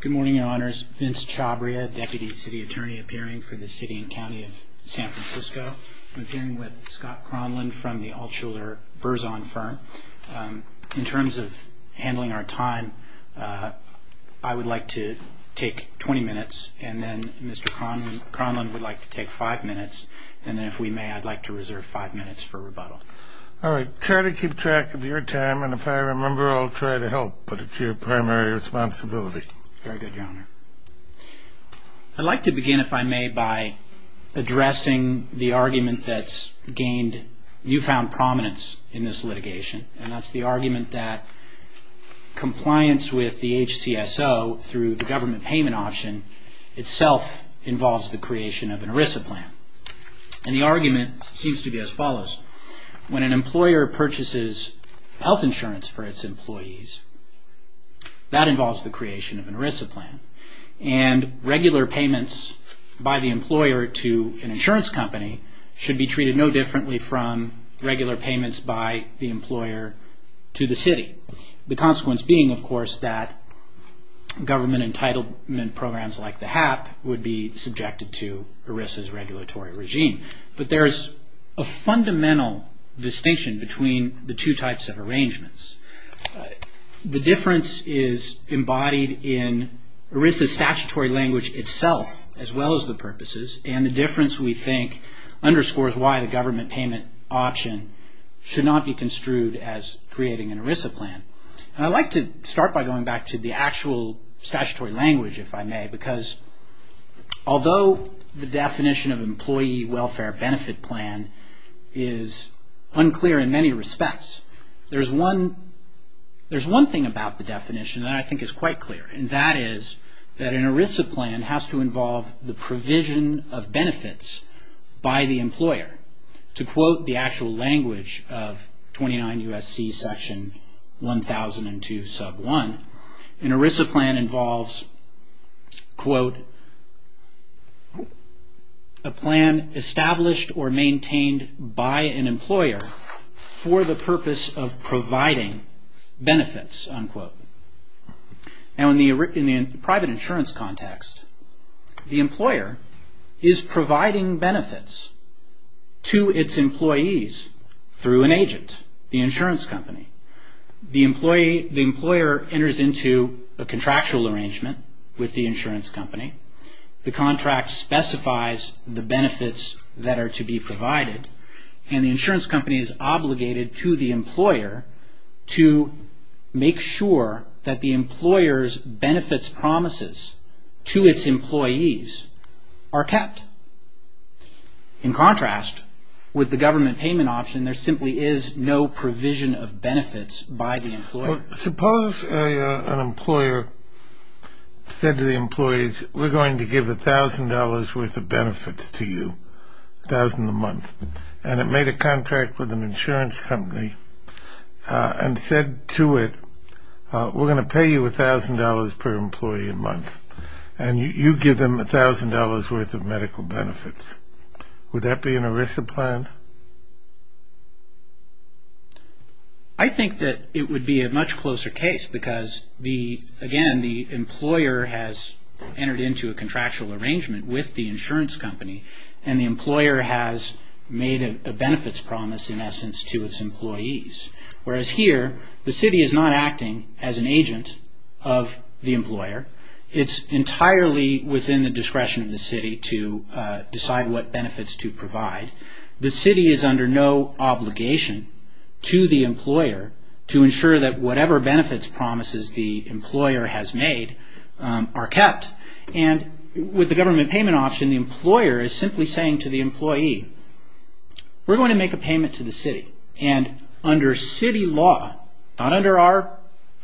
Good morning, Your Honors. Vince Chabria, Deputy City Attorney, appearing for the City and County of San Francisco. I'm appearing with Scott Cronlund from the Altshuler-Burzon firm. In terms of handling our time, I would like to take 20 minutes, and then Mr. Cronlund would like to take 5 minutes, and then if we may, I'd like to reserve 5 minutes for rebuttal. All right. Try to keep track of your time, and if I remember, I'll try to help, but it's your primary responsibility. Very good, Your Honor. I'd like to begin, if I may, by addressing the argument that's gained newfound prominence in this litigation, and that's the argument that compliance with the HCSO through the government payment option itself involves the creation of an ERISA plan. And the argument seems to be as follows. When an employer purchases health insurance for its employees, that involves the creation of an ERISA plan, and regular payments by the employer to an insurance company should be treated no differently from regular payments by the employer to the city. The consequence being, of course, that government entitlement programs like the HAP would be subjected to ERISA's regulatory regime. But there's a fundamental distinction between the two types of arrangements. The difference is embodied in ERISA's statutory language itself, as well as the purposes, and the difference, we think, underscores why the government payment option should not be construed as creating an ERISA plan. And I'd like to start by going back to the actual statutory language, if I may, because although the definition of employee welfare benefit plan is unclear in many respects, there's one thing about the definition that I think is quite clear, and that is that an ERISA plan has to involve the provision of benefits by the employer. To quote the actual language of 29 U.S.C. section 1002 sub 1, an ERISA plan involves, quote, a plan established or maintained by an employer for the purpose of providing benefits, unquote. Now in the private insurance context, the employer is providing benefits to its employees through an agent, the insurance company. The employer enters into a contractual arrangement with the insurance company. The contract specifies the benefits that are to be provided, and the insurance company is obligated to the employer to make sure that the employer's benefits promises to its employees are kept. In contrast, with the government payment option, there simply is no provision of benefits by the employer. Suppose an employer said to the employees, we're going to give $1,000 worth of benefits to you, $1,000 a month, and it made a contract with an insurance company and said to it, we're going to pay you $1,000 per employee a month, and you give them $1,000 worth of medical benefits. Would that be an ERISA plan? I think that it would be a much closer case because, again, the employer has entered into a contractual arrangement with the insurance company, and the employer has made a benefits promise, in essence, to its employees. Whereas here, the city is not acting as an agent of the employer. It's entirely within the discretion of the city to decide what benefits to provide. The city is under no obligation to the employer to ensure that whatever benefits promises the employer has made are kept. With the government payment option, the employer is simply saying to the employee, we're going to make a payment to the city, and under city law, not under our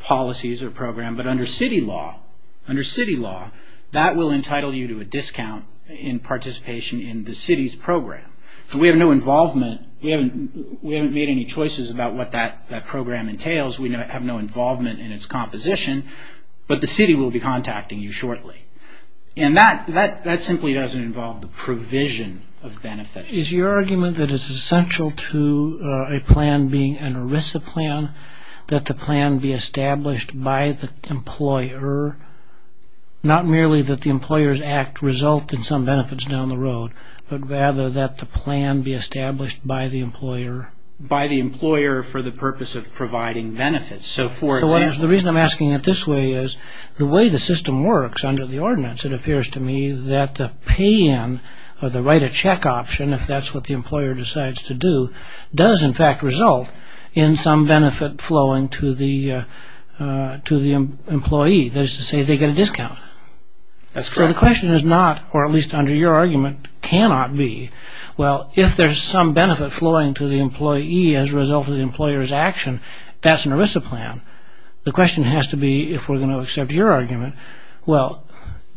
policies or program, but under city law, that will entitle you to a discount in participation in the city's program. So we have no involvement. We haven't made any choices about what that program entails. We have no involvement in its composition, but the city will be contacting you shortly. And that simply doesn't involve the provision of benefits. Is your argument that it's essential to a plan being an ERISA plan that the plan be established by the employer, not merely that the employer's act result in some benefits down the road, but rather that the plan be established by the employer? By the employer for the purpose of providing benefits. So for example... So the reason I'm asking it this way is the way the system works under the ordinance, it appears to me that the pay-in or the write-a-check option, if that's what the employer decides to do, does in fact result in some benefit flowing to the employee. That is to say, they get a discount. That's correct. So the question is not, or at least under your argument, cannot be, well, if there's some benefit flowing to the employee as a result of the employer's action, that's an ERISA plan. The question has to be, if we're going to accept your argument, well,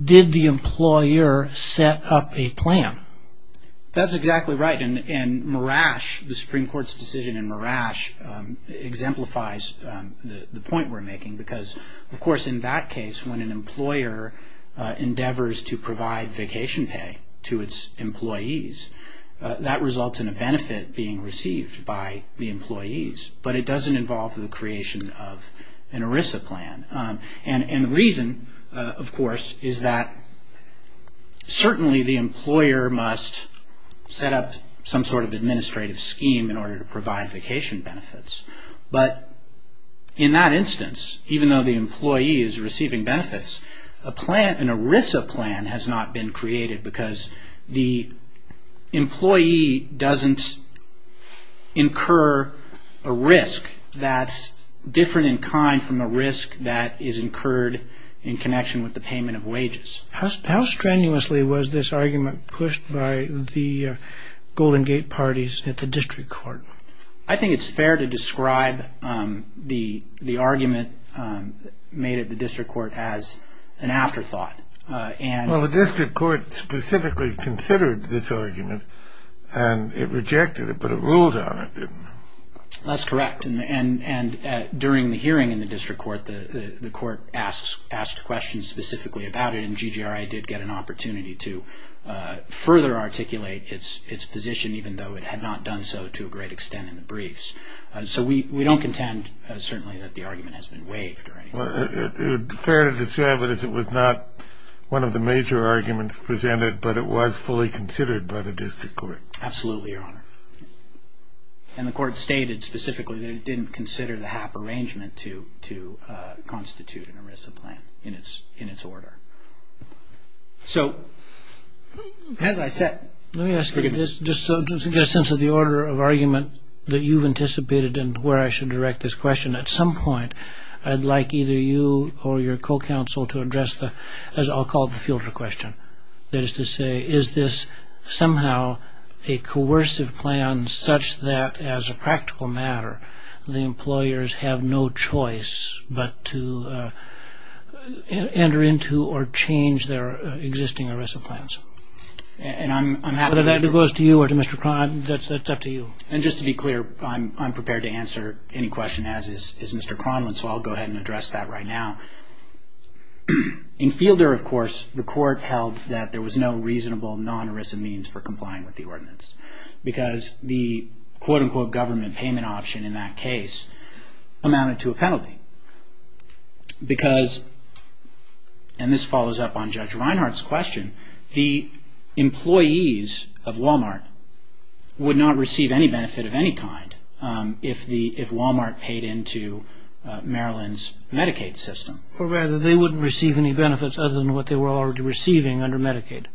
did the employer set up a plan? That's exactly right. And Marash, the Supreme Court's decision in Marash, exemplifies the point we're making because, of course, in that case, when an employer endeavors to provide vacation pay to its employees, that results in a benefit being received by the employees. But it doesn't involve the creation of an ERISA plan. And the reason, of course, is that certainly the employer must set up some sort of administrative scheme in order to provide vacation benefits. But in that instance, even though the employee is receiving benefits, an ERISA plan has not been created because the employee doesn't incur a risk that's different in kind from the risk that is incurred in connection with the payment of wages. How strenuously was this argument pushed by the Golden Gate parties at the district court? I think it's fair to describe the argument made at the district court as an afterthought. Well, the district court specifically considered this argument, and it rejected it, but it ruled on it, didn't it? That's correct. And during the hearing in the district court, the court asked questions specifically about it, and GGRI did get an opportunity to further articulate its position, even though it had not done so to a great extent in the briefs. So we don't contend, certainly, that the argument has been waived or anything. Well, it's fair to describe it as it was not one of the major arguments presented, but it was fully considered by the district court. Absolutely, Your Honor. And the court stated specifically that it didn't consider the HAP arrangement to constitute an ERISA plan in its order. So, as I said... Let me ask you this, just to get a sense of the order of argument that you've anticipated and where I should direct this question. At some point, I'd like either you or your co-counsel to address the, as I'll call it, the fielder question. That is to say, is this somehow a coercive plan such that, as a practical matter, the employers have no choice but to enter into or change their existing ERISA plans? Whether that goes to you or to Mr. Cronlund, that's up to you. And just to be clear, I'm prepared to answer any question as is Mr. Cronlund, so I'll go ahead and address that right now. In Fielder, of course, the court held that there was no reasonable non-ERISA means for complying with the ordinance, because the quote-unquote government payment option in that case amounted to a penalty. Because, and this follows up on Judge Reinhart's question, the employees of Walmart would not receive any benefit of any kind if Walmart paid into Maryland's Medicaid system. Or rather, they wouldn't receive any benefits other than what they were already receiving under Medicaid.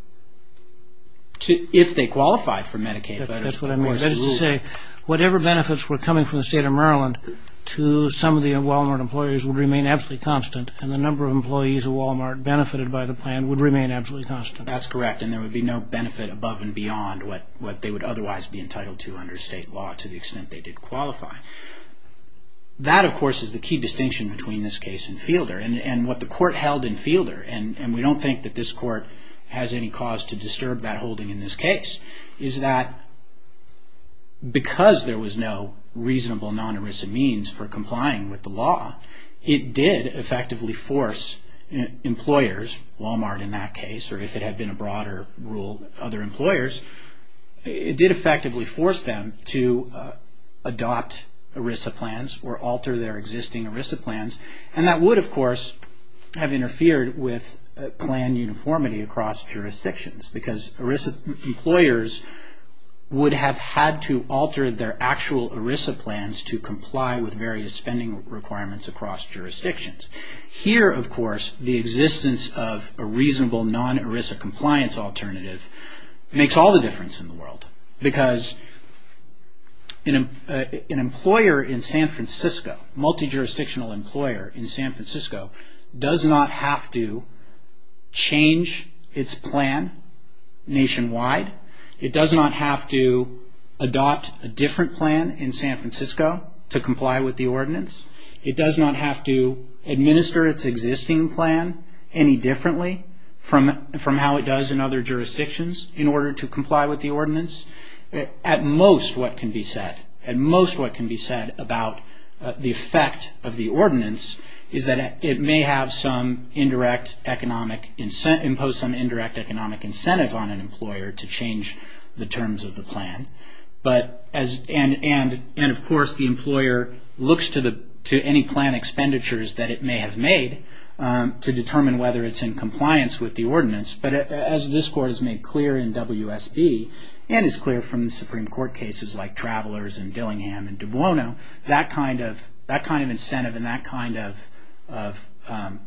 If they qualified for Medicaid. That's what I mean. That is to say, whatever benefits were coming from the state of Maryland to some of the Walmart employees would remain absolutely constant, and the number of employees at Walmart benefited by the plan would remain absolutely constant. That's correct, and there would be no benefit above and beyond what they would otherwise be entitled to under state law to the extent they did qualify. That, of course, is the key distinction between this case and Fielder, and what the court held in Fielder, and we don't think that this court has any cause to disturb that holding in this case, is that because there was no reasonable non-ERISA means for complying with the law, it did effectively force employers, Walmart in that case, or if it had been a broader rule, other employers, it did effectively force them to adopt ERISA plans or alter their existing ERISA plans, and that would, of course, have interfered with plan uniformity across jurisdictions because ERISA employers would have had to alter their actual ERISA plans to comply with various spending requirements across jurisdictions. Here, of course, the existence of a reasonable non-ERISA compliance alternative makes all the difference in the world because an employer in San Francisco, a multi-jurisdictional employer in San Francisco, does not have to change its plan nationwide. It does not have to adopt a different plan in San Francisco to comply with the ordinance. It does not have to administer its existing plan any differently from how it does in other jurisdictions in order to comply with the ordinance. At most, what can be said about the effect of the ordinance is that it may impose some indirect economic incentive on an employer to change the terms of the plan, and, of course, the employer looks to any plan expenditures that it may have made to determine whether it's in compliance with the ordinance. But as this Court has made clear in WSB and is clear from the Supreme Court cases like Travelers and Dillingham and De Buono, that kind of incentive and that kind of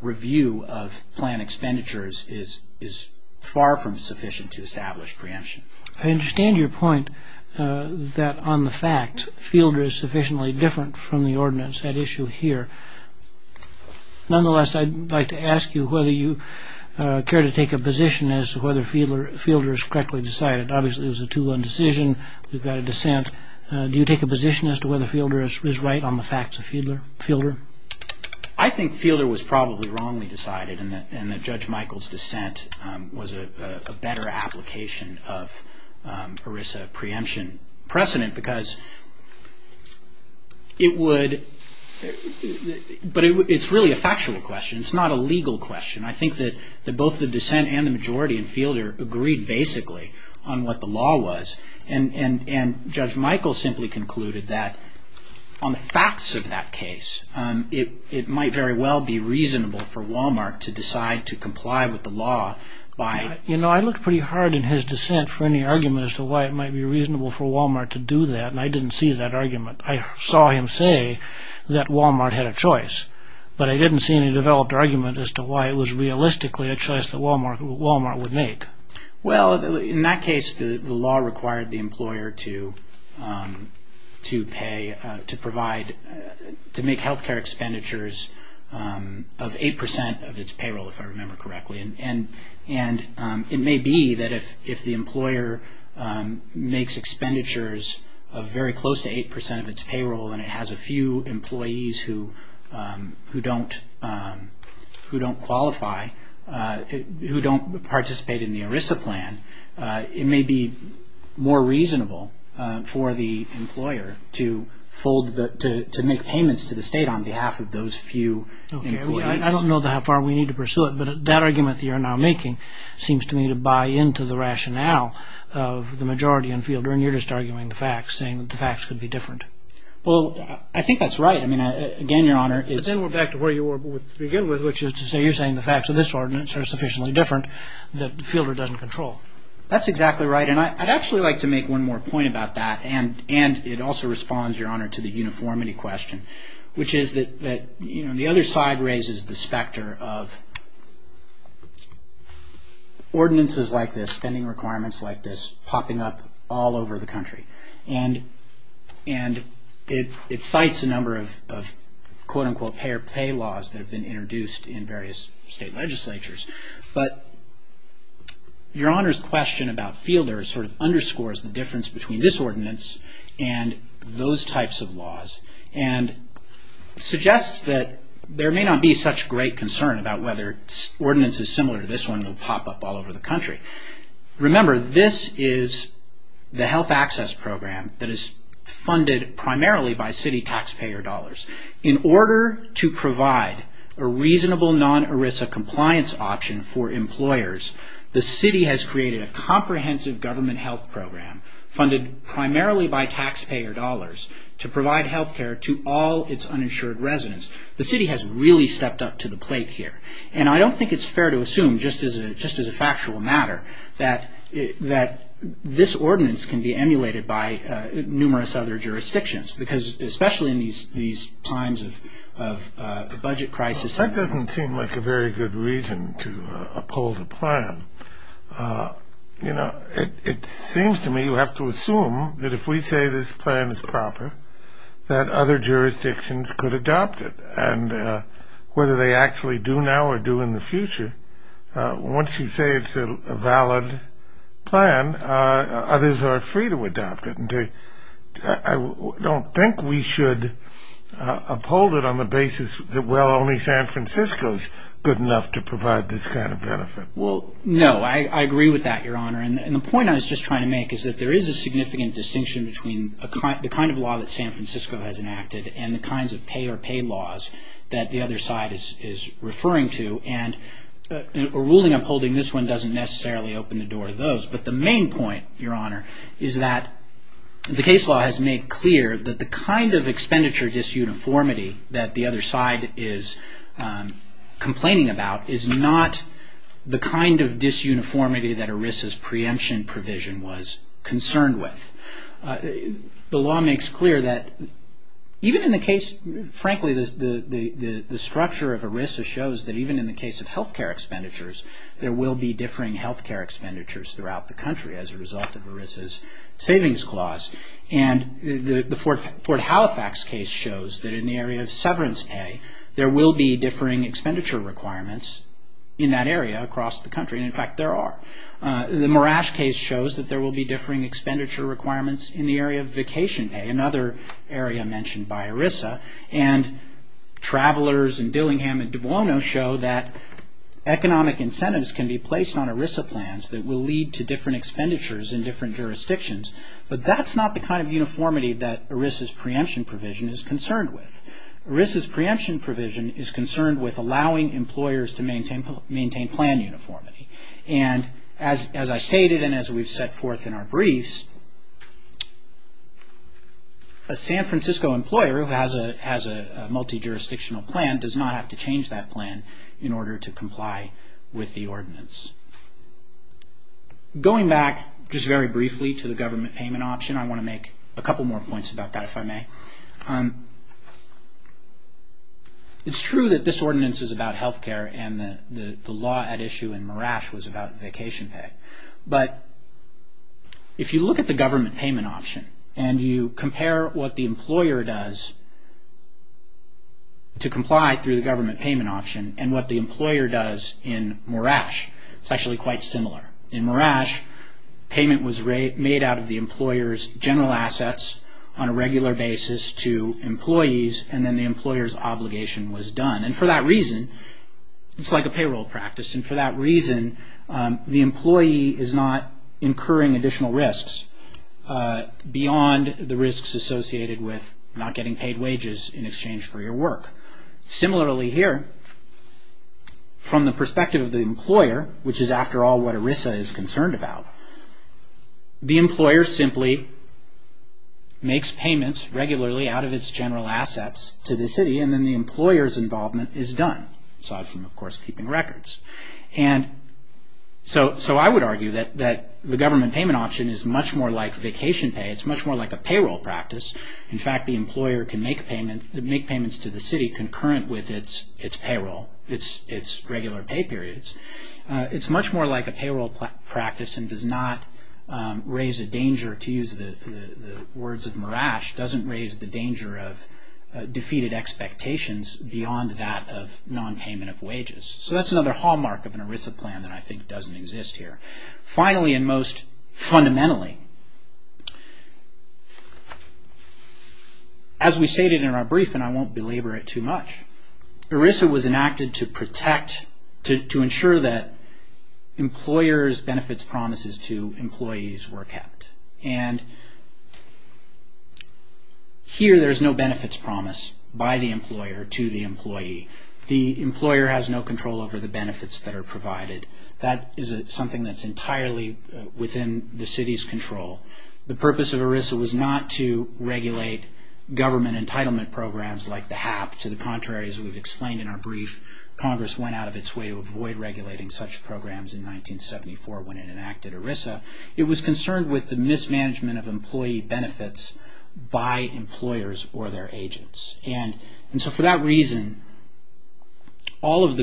review of plan expenditures is far from sufficient to establish preemption. I understand your point that, on the fact, Fielder is sufficiently different from the ordinance at issue here. Nonetheless, I'd like to ask you whether you care to take a position as to whether Fielder is correctly decided. Obviously, it was a 2-1 decision. We've got a dissent. Do you take a position as to whether Fielder is right on the facts of Fielder? I think Fielder was probably wrongly decided and that Judge Michael's dissent was a better application of ERISA preemption precedent because it's really a factual question. It's not a legal question. I think that both the dissent and the majority in Fielder agreed basically on what the law was, and Judge Michael simply concluded that on the facts of that case, it might very well be reasonable for Wal-Mart to decide to comply with the law by... I looked pretty hard in his dissent for any argument as to why it might be reasonable for Wal-Mart to do that, and I didn't see that argument. I saw him say that Wal-Mart had a choice, but I didn't see any developed argument as to why it was realistically a choice that Wal-Mart would make. In that case, the law required the employer to pay, to provide, to make health care expenditures of 8% of its payroll, if I remember correctly. It may be that if the employer makes expenditures of very close to 8% of its payroll and it has a few employees who don't qualify, who don't participate in the ERISA plan, it may be more reasonable for the employer to make payments to the state on behalf of those few employees. I don't know how far we need to pursue it, but that argument that you're now making seems to me to buy into the rationale of the majority in Fielder, and you're just arguing the facts, saying that the facts could be different. Well, I think that's right. Again, Your Honor, it's... But then we're back to where you were to begin with, which is to say you're saying the facts of this ordinance are sufficiently different that Fielder doesn't control. That's exactly right. And I'd actually like to make one more point about that, and it also responds, Your Honor, to the uniformity question, which is that the other side raises the specter of ordinances like this, spending requirements like this, popping up all over the country. And it cites a number of, quote-unquote, taxpayer pay laws that have been introduced in various state legislatures. But Your Honor's question about Fielder sort of underscores the difference between this ordinance and those types of laws, and suggests that there may not be such great concern about whether ordinances similar to this one will pop up all over the country. Remember, this is the health access program that is funded primarily by city taxpayer dollars. In order to provide a reasonable non-ERISA compliance option for employers, the city has created a comprehensive government health program funded primarily by taxpayer dollars to provide health care to all its uninsured residents. The city has really stepped up to the plate here. And I don't think it's fair to assume, just as a factual matter, that this ordinance can be emulated by numerous other jurisdictions, because especially in these times of the budget crisis... That doesn't seem like a very good reason to uphold the plan. You know, it seems to me you have to assume that if we say this plan is proper, that other jurisdictions could adopt it. And whether they actually do now or do in the future, once you say it's a valid plan, others are free to adopt it. I don't think we should uphold it on the basis that, well, only San Francisco is good enough to provide this kind of benefit. No, I agree with that, Your Honor. And the point I was just trying to make is that there is a significant distinction between the kind of law that San Francisco has enacted and the kinds of pay-or-pay laws that the other side is referring to. And a ruling upholding this one doesn't necessarily open the door to those. But the main point, Your Honor, is that the case law has made clear that the kind of expenditure disuniformity that the other side is complaining about is not the kind of disuniformity that ERISA's preemption provision was concerned with. The law makes clear that even in the case... Frankly, the structure of ERISA shows that even in the case of health care expenditures, there will be differing health care expenditures throughout the country as a result of ERISA's savings clause. And the Fort Halifax case shows that in the area of severance pay, there will be differing expenditure requirements in that area across the country. And, in fact, there are. The Morash case shows that there will be differing expenditure requirements in the area of vacation pay, another area mentioned by ERISA. Travelers in Dillingham and Dubuono show that economic incentives can be placed on ERISA plans that will lead to different expenditures in different jurisdictions. But that's not the kind of uniformity that ERISA's preemption provision is concerned with. ERISA's preemption provision is concerned with allowing employers to maintain plan uniformity. And, as I stated and as we've set forth in our briefs, a San Francisco employer who has a multi-jurisdictional plan does not have to change that plan in order to comply with the ordinance. Going back just very briefly to the government payment option, I want to make a couple more points about that, if I may. It's true that this ordinance is about health care and the law at issue in Morash was about vacation pay. But if you look at the government payment option and you compare what the employer does to comply through the government payment option and what the employer does in Morash, it's actually quite similar. In Morash, payment was made out of the employer's general assets on a regular basis to employees and then the employer's obligation was done. And for that reason, it's like a payroll practice. And for that reason, the employee is not incurring additional risks beyond the risks associated with not getting paid wages in exchange for your work. Similarly here, from the perspective of the employer, which is after all what ERISA is concerned about, the employer simply makes payments regularly out of its general assets to the city and then the employer's involvement is done. Aside from, of course, keeping records. And so I would argue that the government payment option is much more like vacation pay. It's much more like a payroll practice. In fact, the employer can make payments to the city concurrent with its payroll, its regular pay periods. It's much more like a payroll practice and does not raise a danger, or to use the words of Morash, doesn't raise the danger of defeated expectations beyond that of non-payment of wages. So that's another hallmark of an ERISA plan that I think doesn't exist here. Finally and most fundamentally, as we stated in our briefing, I won't belabor it too much, ERISA was enacted to protect, to ensure that employers' benefits promises to employees were kept. And here there's no benefits promise by the employer to the employee. The employer has no control over the benefits that are provided. That is something that's entirely within the city's control. The purpose of ERISA was not to regulate government entitlement programs like the HAP. To the contrary, as we've explained in our brief, Congress went out of its way to avoid regulating such programs in 1974 when it enacted ERISA. It was concerned with the mismanagement of employee benefits by employers or their agents. And so for that reason, none of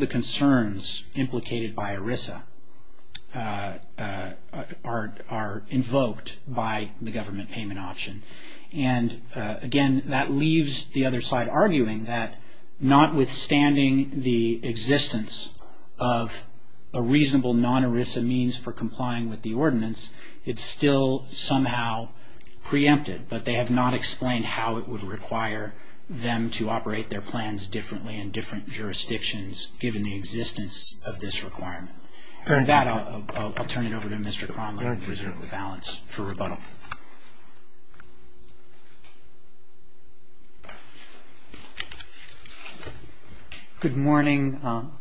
the concerns implicated by ERISA are invoked by the government payment option. And again, that leaves the other side arguing that notwithstanding the existence of a reasonable non-ERISA means for complying with the ordinance, it's still somehow preempted. But they have not explained how it would require them to operate their plans differently in different jurisdictions given the existence of this requirement. With that, I'll turn it over to Mr. Cronlund, the President of the Balance, for rebuttal. Good morning.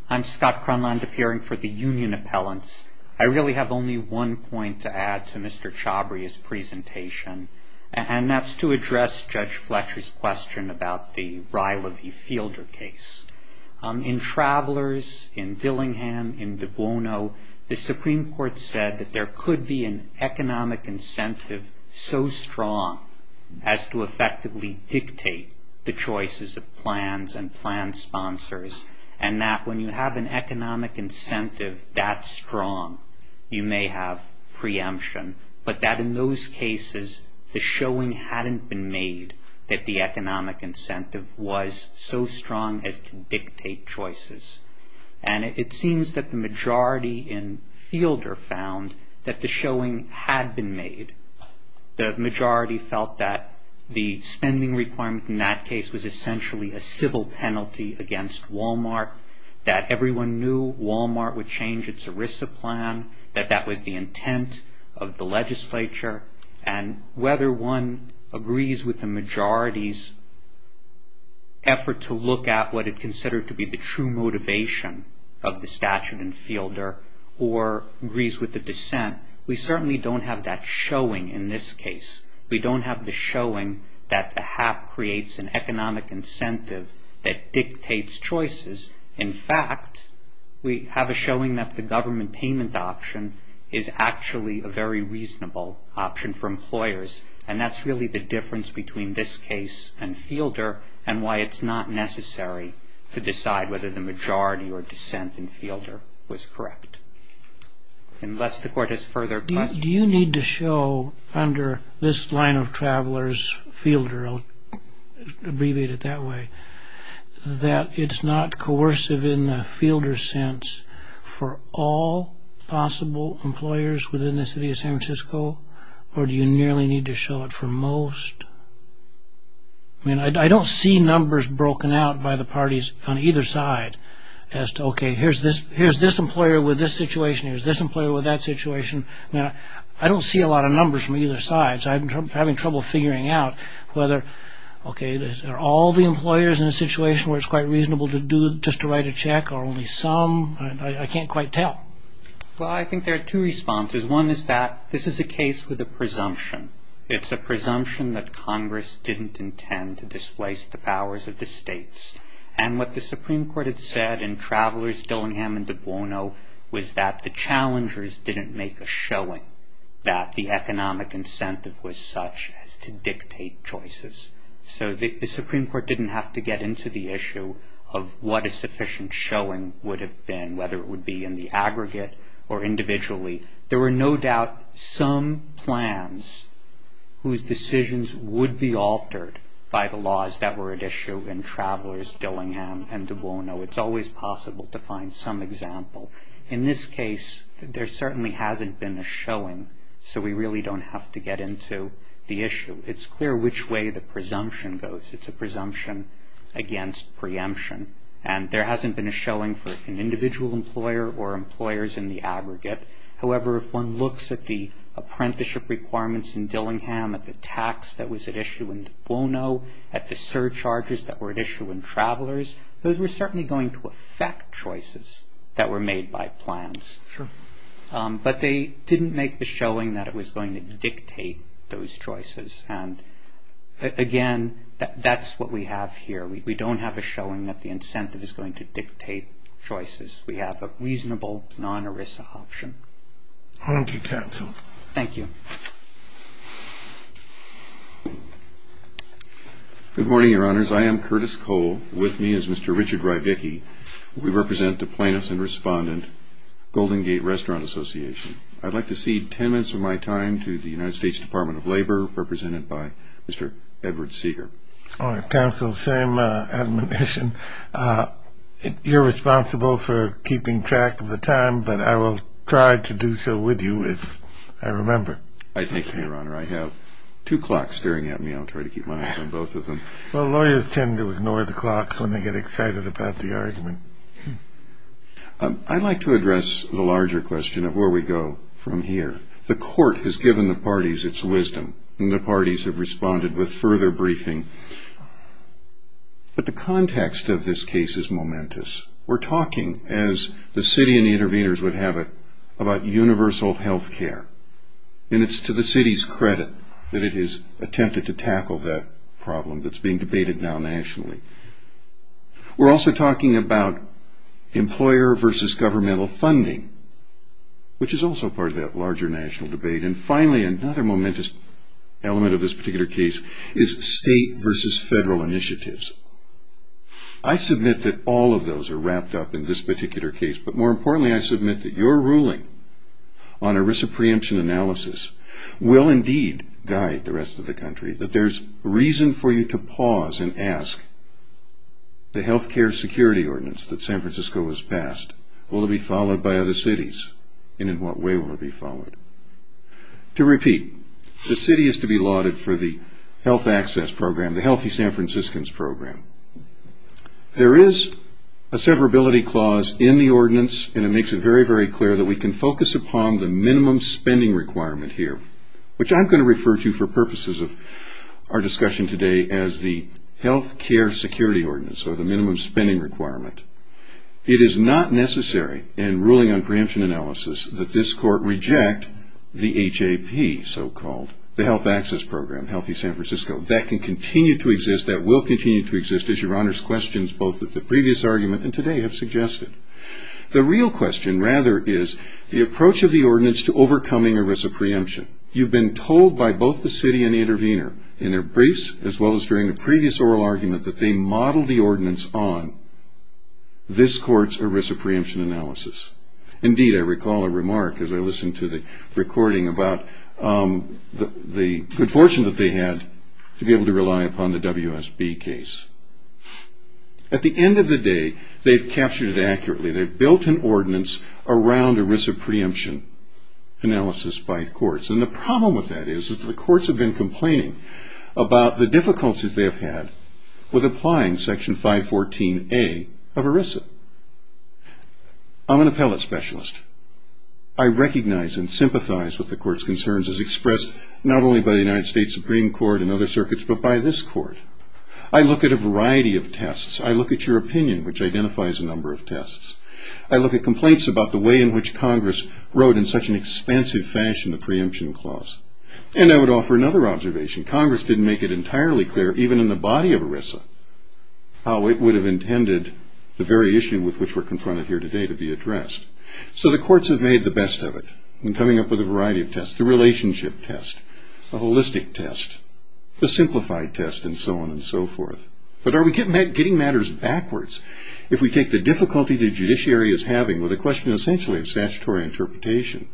I'm Scott Cronlund, appearing for the Union Appellants. I really have only one point to add to Mr. Chabry's presentation, and that's to address Judge Fletcher's question about the Riley v. Fielder case. In Travelers, in Dillingham, in De Buono, the Supreme Court said that there could be an economic incentive so strong as to effectively dictate the choices of plans and plan sponsors, and that when you have an economic incentive that strong, you may have preemption. But that in those cases, the showing hadn't been made that the economic incentive was so strong as to dictate choices. And it seems that the majority in Fielder found that the showing had been made. The majority felt that the spending requirement in that case was essentially a civil penalty against Walmart, that everyone knew Walmart would change its ERISA plan, that that was the intent of the legislature, and whether one agrees with the majority's effort to look at what it considered to be the true motivation of the statute in Fielder or agrees with the dissent, we certainly don't have that showing in this case. We don't have the showing that the HAP creates an economic incentive that dictates choices. In fact, we have a showing that the government payment option is actually a very reasonable option for employers, and that's really the difference between this case and Fielder and why it's not necessary to decide whether the majority or dissent in Fielder was correct. Unless the Court has further questions. Do you need to show under this line of travelers, Fielder, I'll abbreviate it that way, that it's not coercive in the Fielder sense for all possible employers within the city of San Francisco, or do you nearly need to show it for most? I mean, I don't see numbers broken out by the parties on either side as to, okay, here's this employer with this situation, here's this employer with that situation. I don't see a lot of numbers from either side, so I'm having trouble figuring out whether, okay, are all the employers in a situation where it's quite reasonable to do, just to write a check, or only some? I can't quite tell. Well, I think there are two responses. One is that this is a case with a presumption. It's a presumption that Congress didn't intend to displace the powers of the states, and what the Supreme Court had said in Travelers, Dillingham, and De Buono was that the challengers didn't make a showing that the economic incentive was such as to dictate choices. So the Supreme Court didn't have to get into the issue of what a sufficient showing would have been, whether it would be in the aggregate or individually. There were no doubt some plans whose decisions would be altered by the laws that were at issue in Travelers, Dillingham, and De Buono. It's always possible to find some example. In this case, there certainly hasn't been a showing, so we really don't have to get into the issue. It's clear which way the presumption goes. It's a presumption against preemption, and there hasn't been a showing for an individual employer or employers in the aggregate. However, if one looks at the apprenticeship requirements in Dillingham, at the tax that was at issue in De Buono, at the surcharges that were at issue in Travelers, those were certainly going to affect choices that were made by plans. But they didn't make the showing that it was going to dictate those choices. And again, that's what we have here. We don't have a showing that the incentive is going to dictate choices. We have a reasonable non-ERISA option. Thank you, counsel. Thank you. Good morning, Your Honors. I am Curtis Cole. With me is Mr. Richard Rybicki. We represent the plaintiffs and respondent, Golden Gate Restaurant Association. I'd like to cede ten minutes of my time to the United States Department of Labor, represented by Mr. Edward Seeger. Counsel, same admonition. You're responsible for keeping track of the time, but I will try to do so with you if I remember. I thank you, Your Honor. I have two clocks staring at me. I'll try to keep my eyes on both of them. Well, lawyers tend to ignore the clocks when they get excited about the argument. I'd like to address the larger question of where we go from here. The court has given the parties its wisdom, and the parties have responded with further briefing. But the context of this case is momentous. We're talking, as the city and the interveners would have it, about universal health care. And it's to the city's credit that it has attempted to tackle that problem that's being debated now nationally. We're also talking about employer versus governmental funding, which is also part of that larger national debate. And finally, another momentous element of this particular case is state versus federal initiatives. I submit that all of those are wrapped up in this particular case, but more importantly, I submit that your ruling on ERISA preemption analysis will indeed guide the rest of the country, that there's reason for you to pause and ask the health care security ordinance that San Francisco has passed. Will it be followed by other cities, and in what way will it be followed? To repeat, the city is to be lauded for the health access program, the Healthy San Franciscans program. There is a severability clause in the ordinance, and it makes it very, very clear that we can focus upon the minimum spending requirement here, which I'm going to refer to for purposes of our discussion today as the health care security ordinance, or the minimum spending requirement. It is not necessary in ruling on preemption analysis that this court reject the HAP, so-called, the health access program, Healthy San Francisco. That can continue to exist, that will continue to exist, as your Honor's questions, both at the previous argument and today, have suggested. The real question, rather, is the approach of the ordinance to overcoming ERISA preemption. You've been told by both the city and the intervener, in their briefs, as well as during the previous oral argument, that they modeled the ordinance on this court's ERISA preemption analysis. Indeed, I recall a remark, as I listened to the recording, about the good fortune that they had to be able to rely upon the WSB case. At the end of the day, they've captured it accurately. They've built an ordinance around ERISA preemption analysis by courts, and the problem with that is that the courts have been complaining about the difficulties they have had with applying Section 514A of ERISA. I'm an appellate specialist. I recognize and sympathize with the court's concerns as expressed, not only by the United States Supreme Court and other circuits, but by this court. I look at a variety of tests. I look at your opinion, which identifies a number of tests. I look at complaints about the way in which Congress wrote, in such an expansive fashion, the preemption clause. And I would offer another observation. Congress didn't make it entirely clear, even in the body of ERISA, how it would have intended the very issue with which we're confronted here today to be addressed. So the courts have made the best of it in coming up with a variety of tests, the relationship test, the holistic test, the simplified test, and so on and so forth. But are we getting matters backwards if we take the difficulty the judiciary is having with a question essentially of statutory interpretation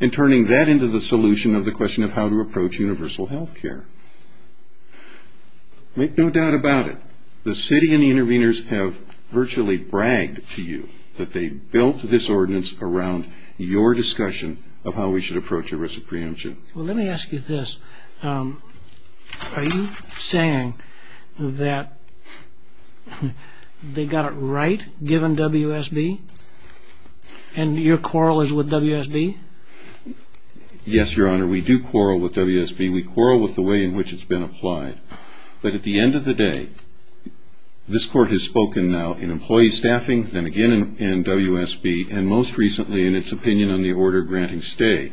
and turning that into the solution of the question of how to approach universal health care? Make no doubt about it. The city and the interveners have virtually bragged to you that they built this ordinance around your discussion of how we should approach ERISA preemption. Well, let me ask you this. Are you saying that they got it right, given WSB, and your quarrel is with WSB? Yes, Your Honor, we do quarrel with WSB. We quarrel with the way in which it's been applied. But at the end of the day, this court has spoken now in employee staffing, then again in WSB, and most recently in its opinion on the order granting stay.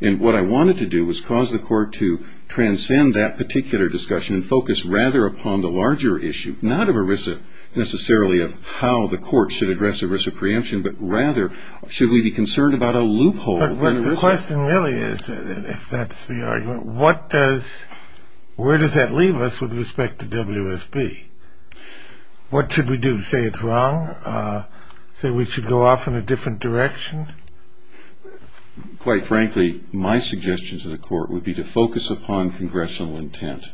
And what I wanted to do was cause the court to transcend that particular discussion and focus rather upon the larger issue, not of ERISA necessarily of how the court should address ERISA preemption, but rather should we be concerned about a loophole? But the question really is, if that's the argument, where does that leave us with respect to WSB? What should we do? Say it's wrong? Say we should go off in a different direction? Quite frankly, my suggestion to the court would be to focus upon congressional intent.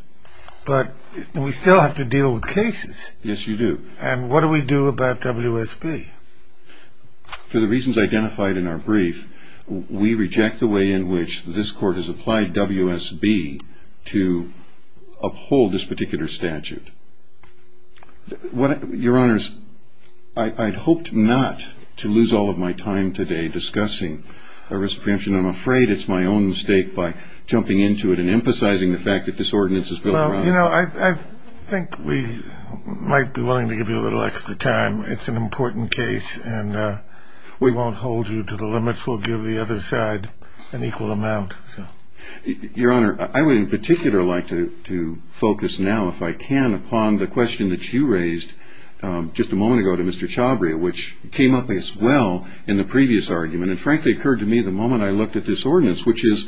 But we still have to deal with cases. Yes, you do. And what do we do about WSB? For the reasons identified in our brief, we reject the way in which this court has applied WSB to uphold this particular statute. Your Honors, I'd hoped not to lose all of my time today discussing ERISA preemption. I'm afraid it's my own mistake by jumping into it and emphasizing the fact that this ordinance is built around it. Well, you know, I think we might be willing to give you a little extra time. It's an important case, and we won't hold you to the limits. We'll give the other side an equal amount. Your Honor, I would in particular like to focus now, if I can, upon the question that you raised just a moment ago to Mr. Chabria, which came up as well in the previous argument and frankly occurred to me the moment I looked at this ordinance, which is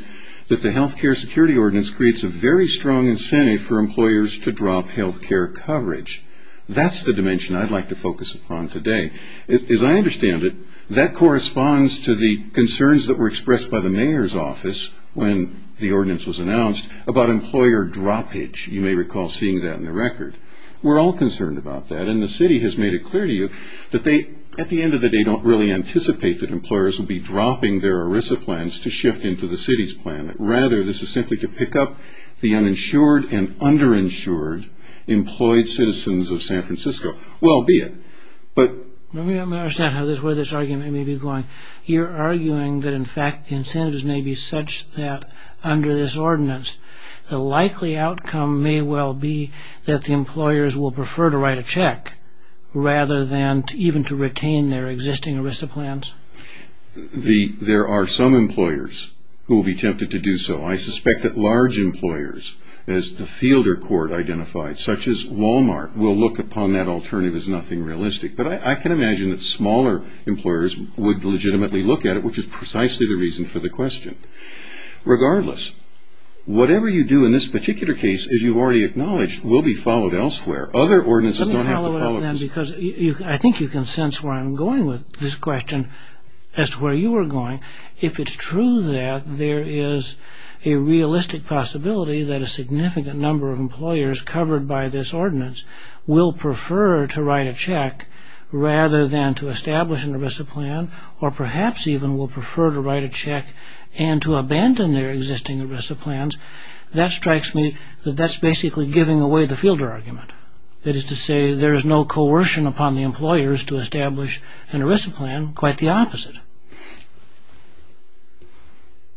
that the health care security ordinance creates a very strong incentive for employers to drop health care coverage. That's the dimension I'd like to focus upon today. As I understand it, that corresponds to the concerns that were expressed by the mayor's office when the ordinance was announced about employer droppage. You may recall seeing that in the record. We're all concerned about that, and the city has made it clear to you that they, at the end of the day, don't really anticipate that employers will be dropping their ERISA plans to shift into the city's plan. Rather, this is simply to pick up the uninsured and underinsured employed citizens of San Francisco. Well, be it. Let me understand where this argument may be going. You're arguing that, in fact, the incentives may be such that under this ordinance, the likely outcome may well be that the employers will prefer to write a check rather than even to retain their existing ERISA plans. There are some employers who will be tempted to do so. I suspect that large employers, as the Fielder court identified, such as Walmart, will look upon that alternative as nothing realistic. But I can imagine that smaller employers would legitimately look at it, which is precisely the reason for the question. Regardless, whatever you do in this particular case, as you've already acknowledged, will be followed elsewhere. Other ordinances don't have to follow this. I think you can sense where I'm going with this question as to where you are going. If it's true that there is a realistic possibility that a significant number of employers covered by this ordinance will prefer to write a check rather than to establish an ERISA plan, or perhaps even will prefer to write a check and to abandon their existing ERISA plans, that strikes me that that's basically giving away the Fielder argument. That is to say, there is no coercion upon the employers to establish an ERISA plan. Quite the opposite.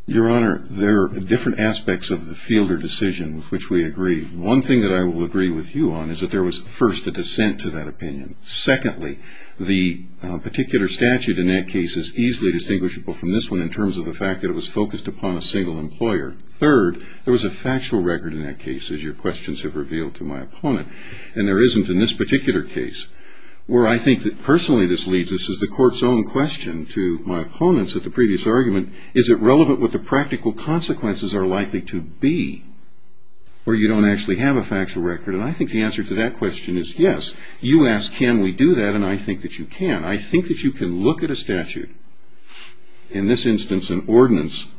Your Honor, there are different aspects of the Fielder decision with which we agree. One thing that I will agree with you on is that there was, first, a dissent to that opinion. Secondly, the particular statute in that case is easily distinguishable from this one in terms of the fact that it was focused upon a single employer. Third, there was a factual record in that case, as your questions have revealed to my opponent, and there isn't in this particular case, where I think that personally this leads us, as the Court's own question to my opponent's at the previous argument, is it relevant what the practical consequences are likely to be where you don't actually have a factual record? And I think the answer to that question is yes. You ask can we do that, and I think that you can. I think that you can look at a statute, in this instance an ordinance,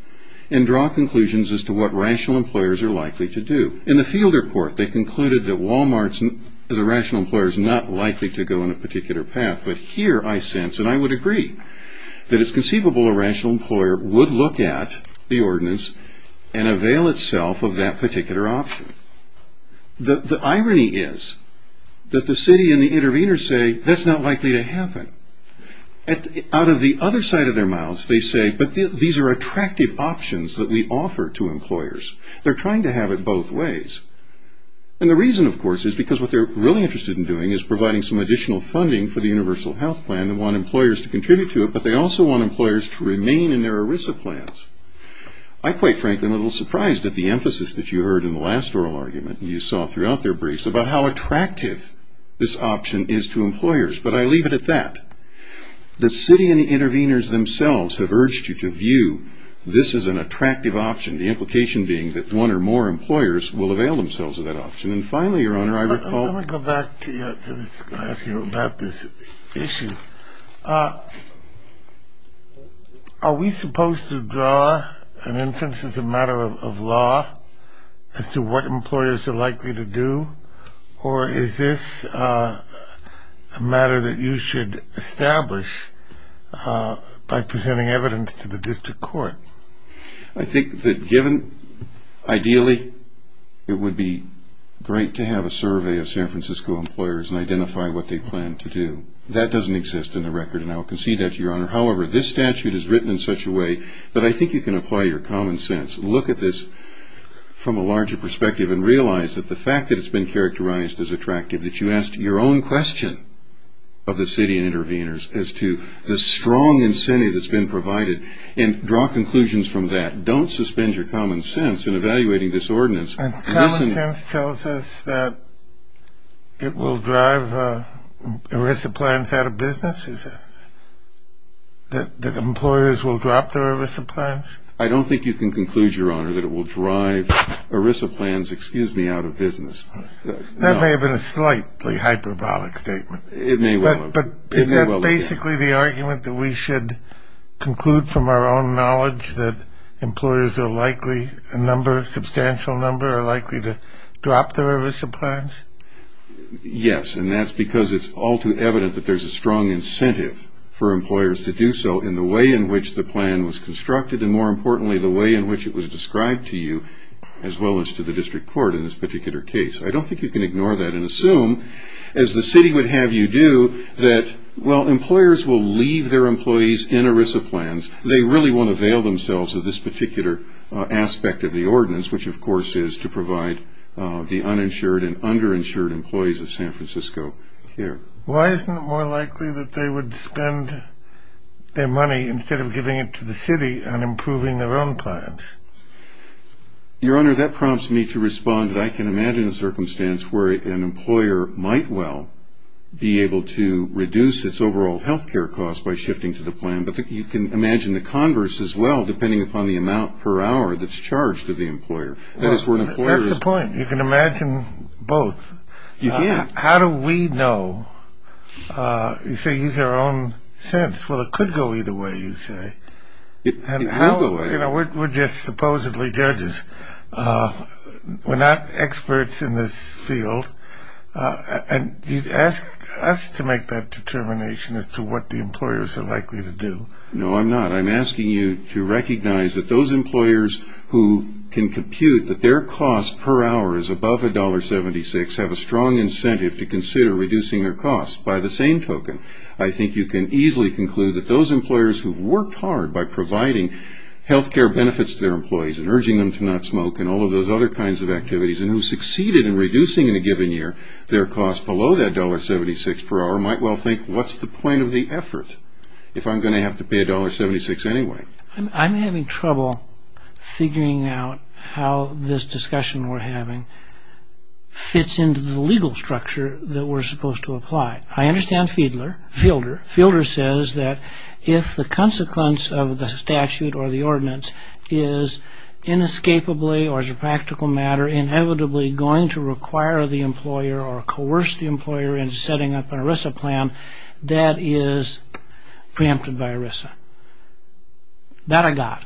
and draw conclusions as to what rational employers are likely to do. In the Fielder Court, they concluded that Wal-Mart, as a rational employer, is not likely to go in a particular path, but here I sense, and I would agree, that it's conceivable a rational employer would look at the ordinance and avail itself of that particular option. The irony is that the city and the intervener say that's not likely to happen. Out of the other side of their mouths, they say, but these are attractive options that we offer to employers. They're trying to have it both ways. And the reason, of course, is because what they're really interested in doing is providing some additional funding for the universal health plan and want employers to contribute to it, but they also want employers to remain in their ERISA plans. I, quite frankly, am a little surprised at the emphasis that you heard in the last oral argument, and you saw throughout their briefs, about how attractive this option is to employers, but I leave it at that. The city and the interveners themselves have urged you to view this as an attractive option, the implication being that one or more employers will avail themselves of that option. And finally, Your Honor, I recall... Let me go back to ask you about this issue. Are we supposed to draw an instance as a matter of law as to what employers are likely to do, or is this a matter that you should establish by presenting evidence to the district court? I think that given, ideally, it would be great to have a survey of San Francisco employers and identify what they plan to do. That doesn't exist in the record, and I will concede that to Your Honor. However, this statute is written in such a way that I think you can apply your common sense. Look at this from a larger perspective and realize that the fact that it's been characterized as attractive, that you asked your own question of the city and interveners as to the strong incentive that's been provided, and draw conclusions from that. Don't suspend your common sense in evaluating this ordinance. And common sense tells us that it will drive ERISA plans out of business? That employers will drop their ERISA plans? I don't think you can conclude, Your Honor, that it will drive ERISA plans, excuse me, out of business. That may have been a slightly hyperbolic statement. It may well have been. But is that basically the argument that we should conclude from our own knowledge that employers are likely, a substantial number, are likely to drop their ERISA plans? Yes, and that's because it's all too evident that there's a strong incentive for employers to do so in the way in which the plan was constructed and, more importantly, the way in which it was described to you as well as to the district court in this particular case. I don't think you can ignore that and assume, as the city would have you do, that while employers will leave their employees in ERISA plans, they really won't avail themselves of this particular aspect of the ordinance, which, of course, is to provide the uninsured and underinsured employees of San Francisco care. Why isn't it more likely that they would spend their money, instead of giving it to the city, on improving their own plans? Your Honor, that prompts me to respond that I can imagine a circumstance where an employer might well be able to reduce its overall health care costs by shifting to the plan. But you can imagine the converse as well, depending upon the amount per hour that's charged to the employer. That's the point. You can imagine both. You can. How do we know? You say use our own sense. Well, it could go either way, you say. It could go either way. You know, we're just supposedly judges. We're not experts in this field. And you'd ask us to make that determination as to what the employers are likely to do. No, I'm not. I'm asking you to recognize that those employers who can compute that their cost per hour is above $1.76 have a strong incentive to consider reducing their costs. By the same token, I think you can easily conclude that those employers who've worked hard by providing health care benefits to their employees and urging them to not smoke and all of those other kinds of activities and who succeeded in reducing in a given year their costs below that $1.76 per hour might well think, what's the point of the effort if I'm going to have to pay $1.76 anyway? I'm having trouble figuring out how this discussion we're having fits into the legal structure that we're supposed to apply. I understand Fielder. Fielder says that if the consequence of the statute or the ordinance is inescapably or as a practical matter inevitably going to require the employer or coerce the employer into setting up an ERISA plan, that is preempted by ERISA. That I got.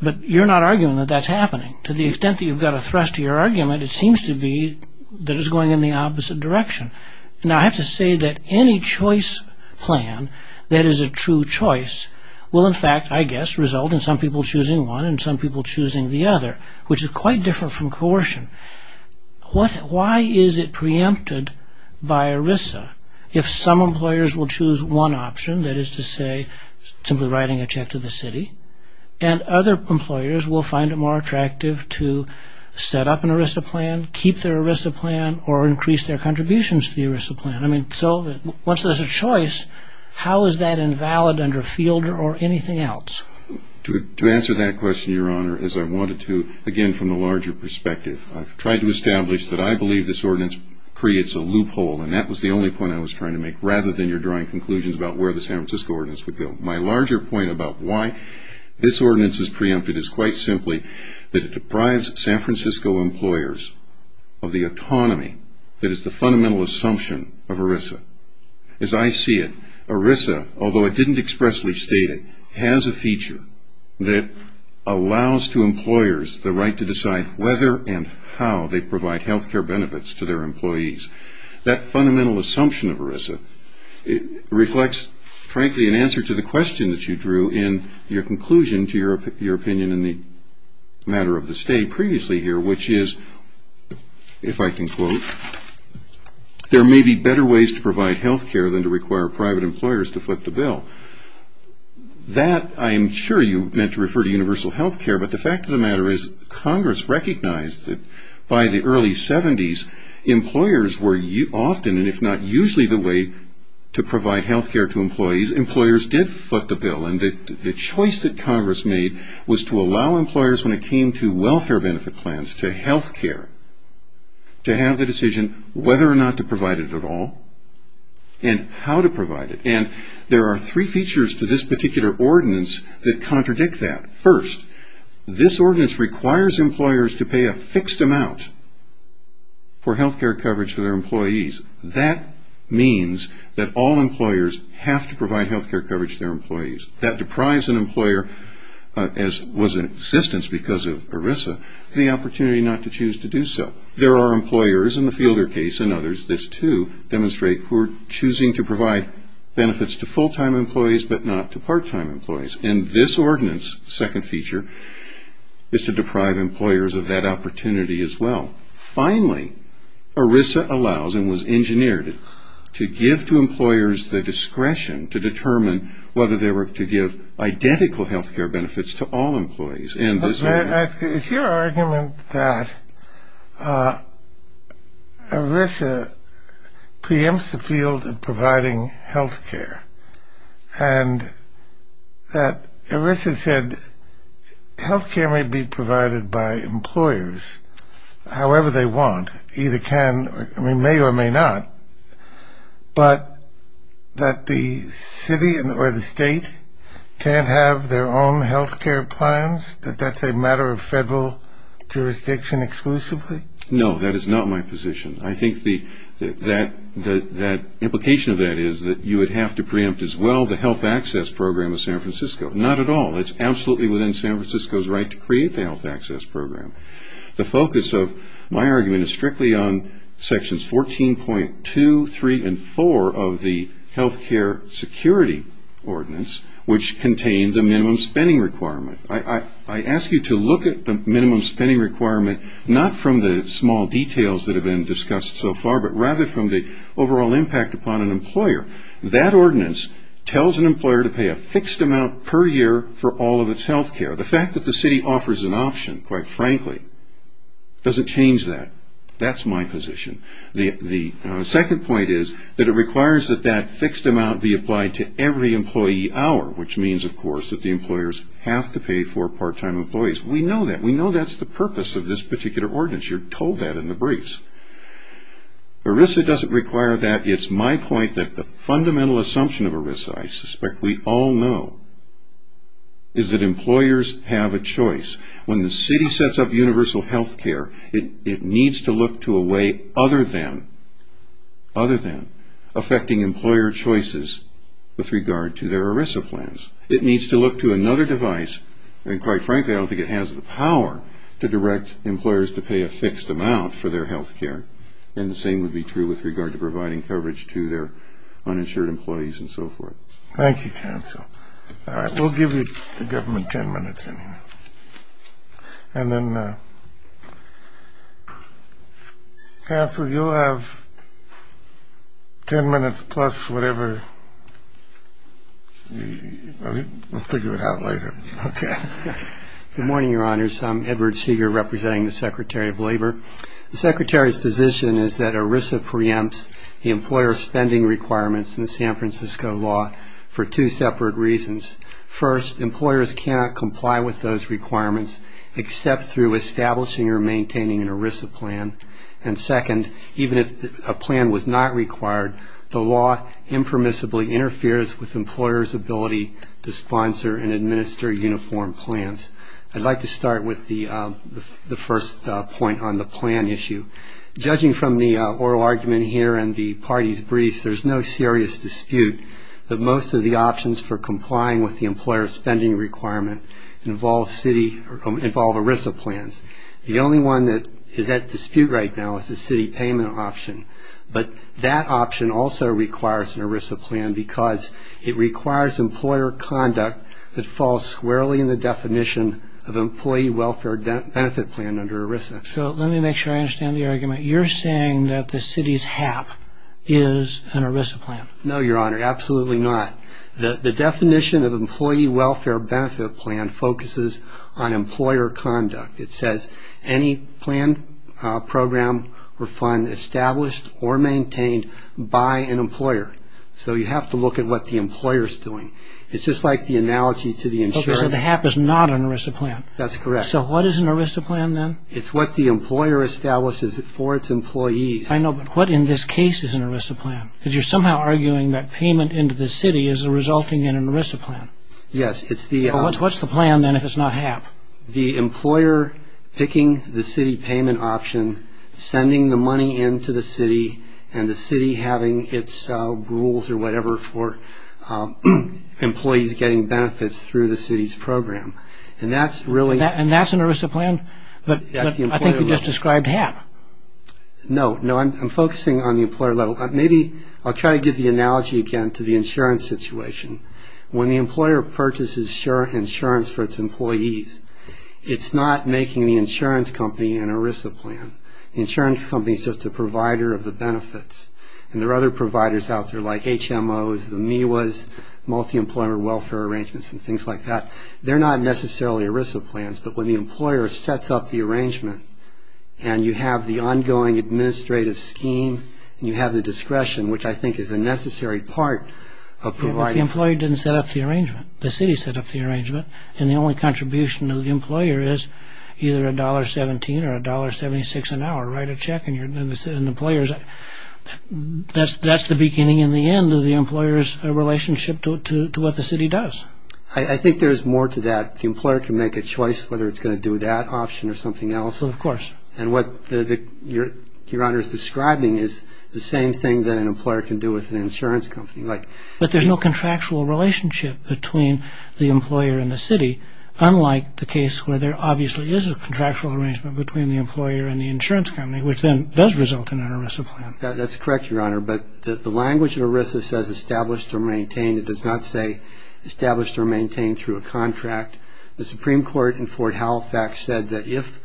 But you're not arguing that that's happening. To the extent that you've got a thrust to your argument, it seems to be that it's going in the opposite direction. Now I have to say that any choice plan that is a true choice will in fact, I guess, result in some people choosing one and some people choosing the other, which is quite different from coercion. Why is it preempted by ERISA if some employers will choose one option, that is to say simply writing a check to the city, and other employers will find it more attractive to set up an ERISA plan, keep their ERISA plan, or increase their contributions to the ERISA plan? So once there's a choice, how is that invalid under Fielder or anything else? To answer that question, Your Honor, as I wanted to, again from the larger perspective, I've tried to establish that I believe this ordinance creates a loophole, and that was the only point I was trying to make, rather than your drawing conclusions about where the San Francisco ordinance would go. My larger point about why this ordinance is preempted is quite simply that it deprives San Francisco employers of the autonomy that is the fundamental assumption of ERISA. As I see it, ERISA, although I didn't expressly state it, has a feature that allows to employers the right to decide whether and how they provide health care benefits to their employees. That fundamental assumption of ERISA reflects, frankly, an answer to the question that you drew in your conclusion to your opinion in the matter of the state previously here, which is, if I can quote, there may be better ways to provide health care than to require private employers to flip the bill. That, I'm sure you meant to refer to universal health care, but the fact of the matter is Congress recognized that by the early 70s, employers were often, and if not usually, the way to provide health care to employees. Employers did flip the bill, and the choice that Congress made was to allow employers, when it came to welfare benefit plans to health care, to have the decision whether or not to provide it at all, and how to provide it. There are three features to this particular ordinance that contradict that. First, this ordinance requires employers to pay a fixed amount for health care coverage for their employees. That means that all employers have to provide health care coverage to their employees. That deprives an employer, as was in existence because of ERISA, the opportunity not to choose to do so. There are employers, in the Fielder case and others, this too, demonstrate who are choosing to provide benefits to full-time employees, but not to part-time employees. And this ordinance, second feature, is to deprive employers of that opportunity as well. Finally, ERISA allows and was engineered to give to employers the discretion to determine whether they were to give identical health care benefits to all employees. Is your argument that ERISA preempts the field of providing health care and that ERISA said health care may be provided by employers however they want, either can or may or may not, but that the city or the state can't have their own health care plans, that that's a matter of federal jurisdiction exclusively? No, that is not my position. I think the implication of that is that you would have to preempt as well the health access program of San Francisco. Not at all. It's absolutely within San Francisco's right to create the health access program. The focus of my argument is strictly on sections 14.2, 3, and 4 of the health care security ordinance, which contain the minimum spending requirement. I ask you to look at the minimum spending requirement, not from the small details that have been discussed so far, but rather from the overall impact upon an employer. That ordinance tells an employer to pay a fixed amount per year for all of its health care. The fact that the city offers an option, quite frankly, doesn't change that. That's my position. The second point is that it requires that that fixed amount be applied to every employee hour, which means, of course, that the employers have to pay for part-time employees. We know that. We know that's the purpose of this particular ordinance. You're told that in the briefs. ERISA doesn't require that. It's my point that the fundamental assumption of ERISA, I suspect we all know, is that employers have a choice. When the city sets up universal health care, it needs to look to a way other than affecting employer choices with regard to their ERISA plans. It needs to look to another device, and quite frankly, I don't think it has the power to direct employers to pay a fixed amount for their health care. And the same would be true with regard to providing coverage to their uninsured employees and so forth. Thank you, counsel. All right, we'll give the government ten minutes. And then, counsel, you'll have ten minutes plus whatever. We'll figure it out later. OK. Good morning, Your Honors. I'm Edward Seeger, representing the Secretary of Labor. The Secretary's position is that ERISA preempts the employer spending requirements in the San Francisco law for two separate reasons. First, employers cannot comply with those requirements except through establishing or maintaining an ERISA plan. And second, even if a plan was not required, the law impermissibly interferes with employers' ability to sponsor and administer uniform plans. I'd like to start with the first point on the plan issue. Judging from the oral argument here and the party's briefs, there's no serious dispute that most of the options for complying with the employer spending requirement involve ERISA plans. The only one that is at dispute right now is the city payment option. But that option also requires an ERISA plan because it requires employer conduct that falls squarely in the definition of employee welfare benefit plan under ERISA. Now, you're saying that the city's HAP is an ERISA plan. No, Your Honor. Absolutely not. The definition of employee welfare benefit plan focuses on employer conduct. It says any plan, program, or fund established or maintained by an employer. So you have to look at what the employer's doing. It's just like the analogy to the insurance. OK, so the HAP is not an ERISA plan. That's correct. So what is an ERISA plan, then? It's what the employer establishes for its employees. I know, but what in this case is an ERISA plan? Because you're somehow arguing that payment into the city is resulting in an ERISA plan. Yes, it's the... So what's the plan, then, if it's not HAP? The employer picking the city payment option, sending the money into the city, and the city having its rules or whatever for employees getting benefits through the city's program. And that's really... I think you just described HAP. No, no, I'm focusing on the employer level. Maybe I'll try to give the analogy again to the insurance situation. When the employer purchases insurance for its employees, it's not making the insurance company an ERISA plan. The insurance company is just a provider of the benefits, and there are other providers out there like HMOs, the MIWAs, multi-employer welfare arrangements, and things like that. They're not necessarily ERISA plans, but when the employer sets up the arrangement and you have the ongoing administrative scheme and you have the discretion, which I think is a necessary part of providing... Yeah, but the employee didn't set up the arrangement. The city set up the arrangement, and the only contribution of the employer is either $1.17 or $1.76 an hour. Write a check, and the employer's... That's the beginning and the end of the employer's relationship to what the city does. I think there's more to that. The employer can make a choice whether it's going to do that option or something else. Well, of course. And what Your Honor is describing is the same thing that an employer can do with an insurance company. But there's no contractual relationship between the employer and the city, unlike the case where there obviously is a contractual arrangement between the employer and the insurance company, which then does result in an ERISA plan. That's correct, Your Honor, but the language of ERISA says established or maintained. It does not say established or maintained through a contract. The Supreme Court in Fort Halifax said that if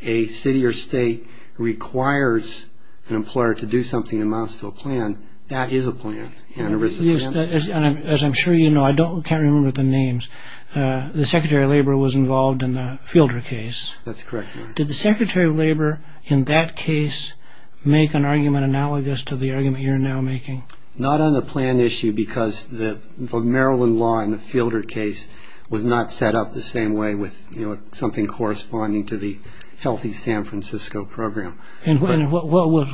a city or state requires an employer to do something that amounts to a plan, that is a plan, an ERISA plan. Yes, and as I'm sure you know, I can't remember the names, the Secretary of Labor was involved in the Fielder case. That's correct, Your Honor. Did the Secretary of Labor in that case make an argument analogous to the argument you're now making? Not on the plan issue, because the Maryland law in the Fielder case was not set up the same way with something corresponding to the Healthy San Francisco program. And what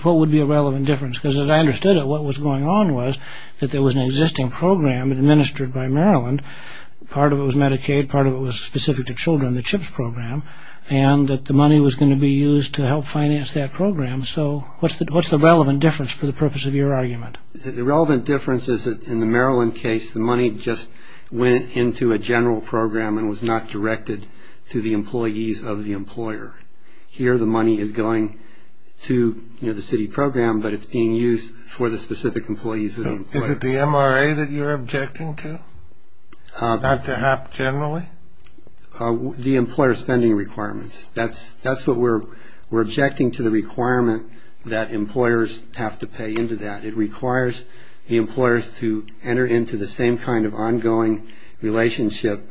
would be a relevant difference? Because as I understood it, what was going on was that there was an existing program administered by Maryland. Part of it was Medicaid, part of it was specific to children, the CHIPS program, and that the money was going to be used to help finance that program. So what's the relevant difference for the purpose of your argument? The relevant difference is that in the Maryland case, the money just went into a general program and was not directed to the employees of the employer. Here the money is going to the city program, but it's being used for the specific employees. Is it the MRA that you're objecting to, not to HAP generally? The employer spending requirements. That's what we're objecting to, the requirement that employers have to pay into that. It requires the employers to enter into the same kind of ongoing relationship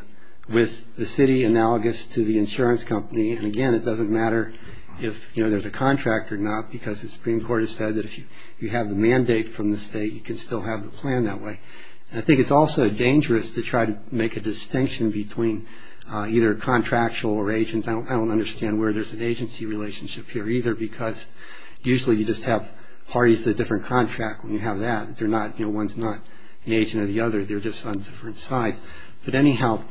with the city, analogous to the insurance company. And, again, it doesn't matter if there's a contract or not, because the Supreme Court has said that if you have the mandate from the state, you can still have the plan that way. And I think it's also dangerous to try to make a distinction between either contractual or agent. I don't understand where there's an agency relationship here either, because usually you just have parties to a different contract when you have that. One's not an agent of the other. They're just on different sides. But, anyhow,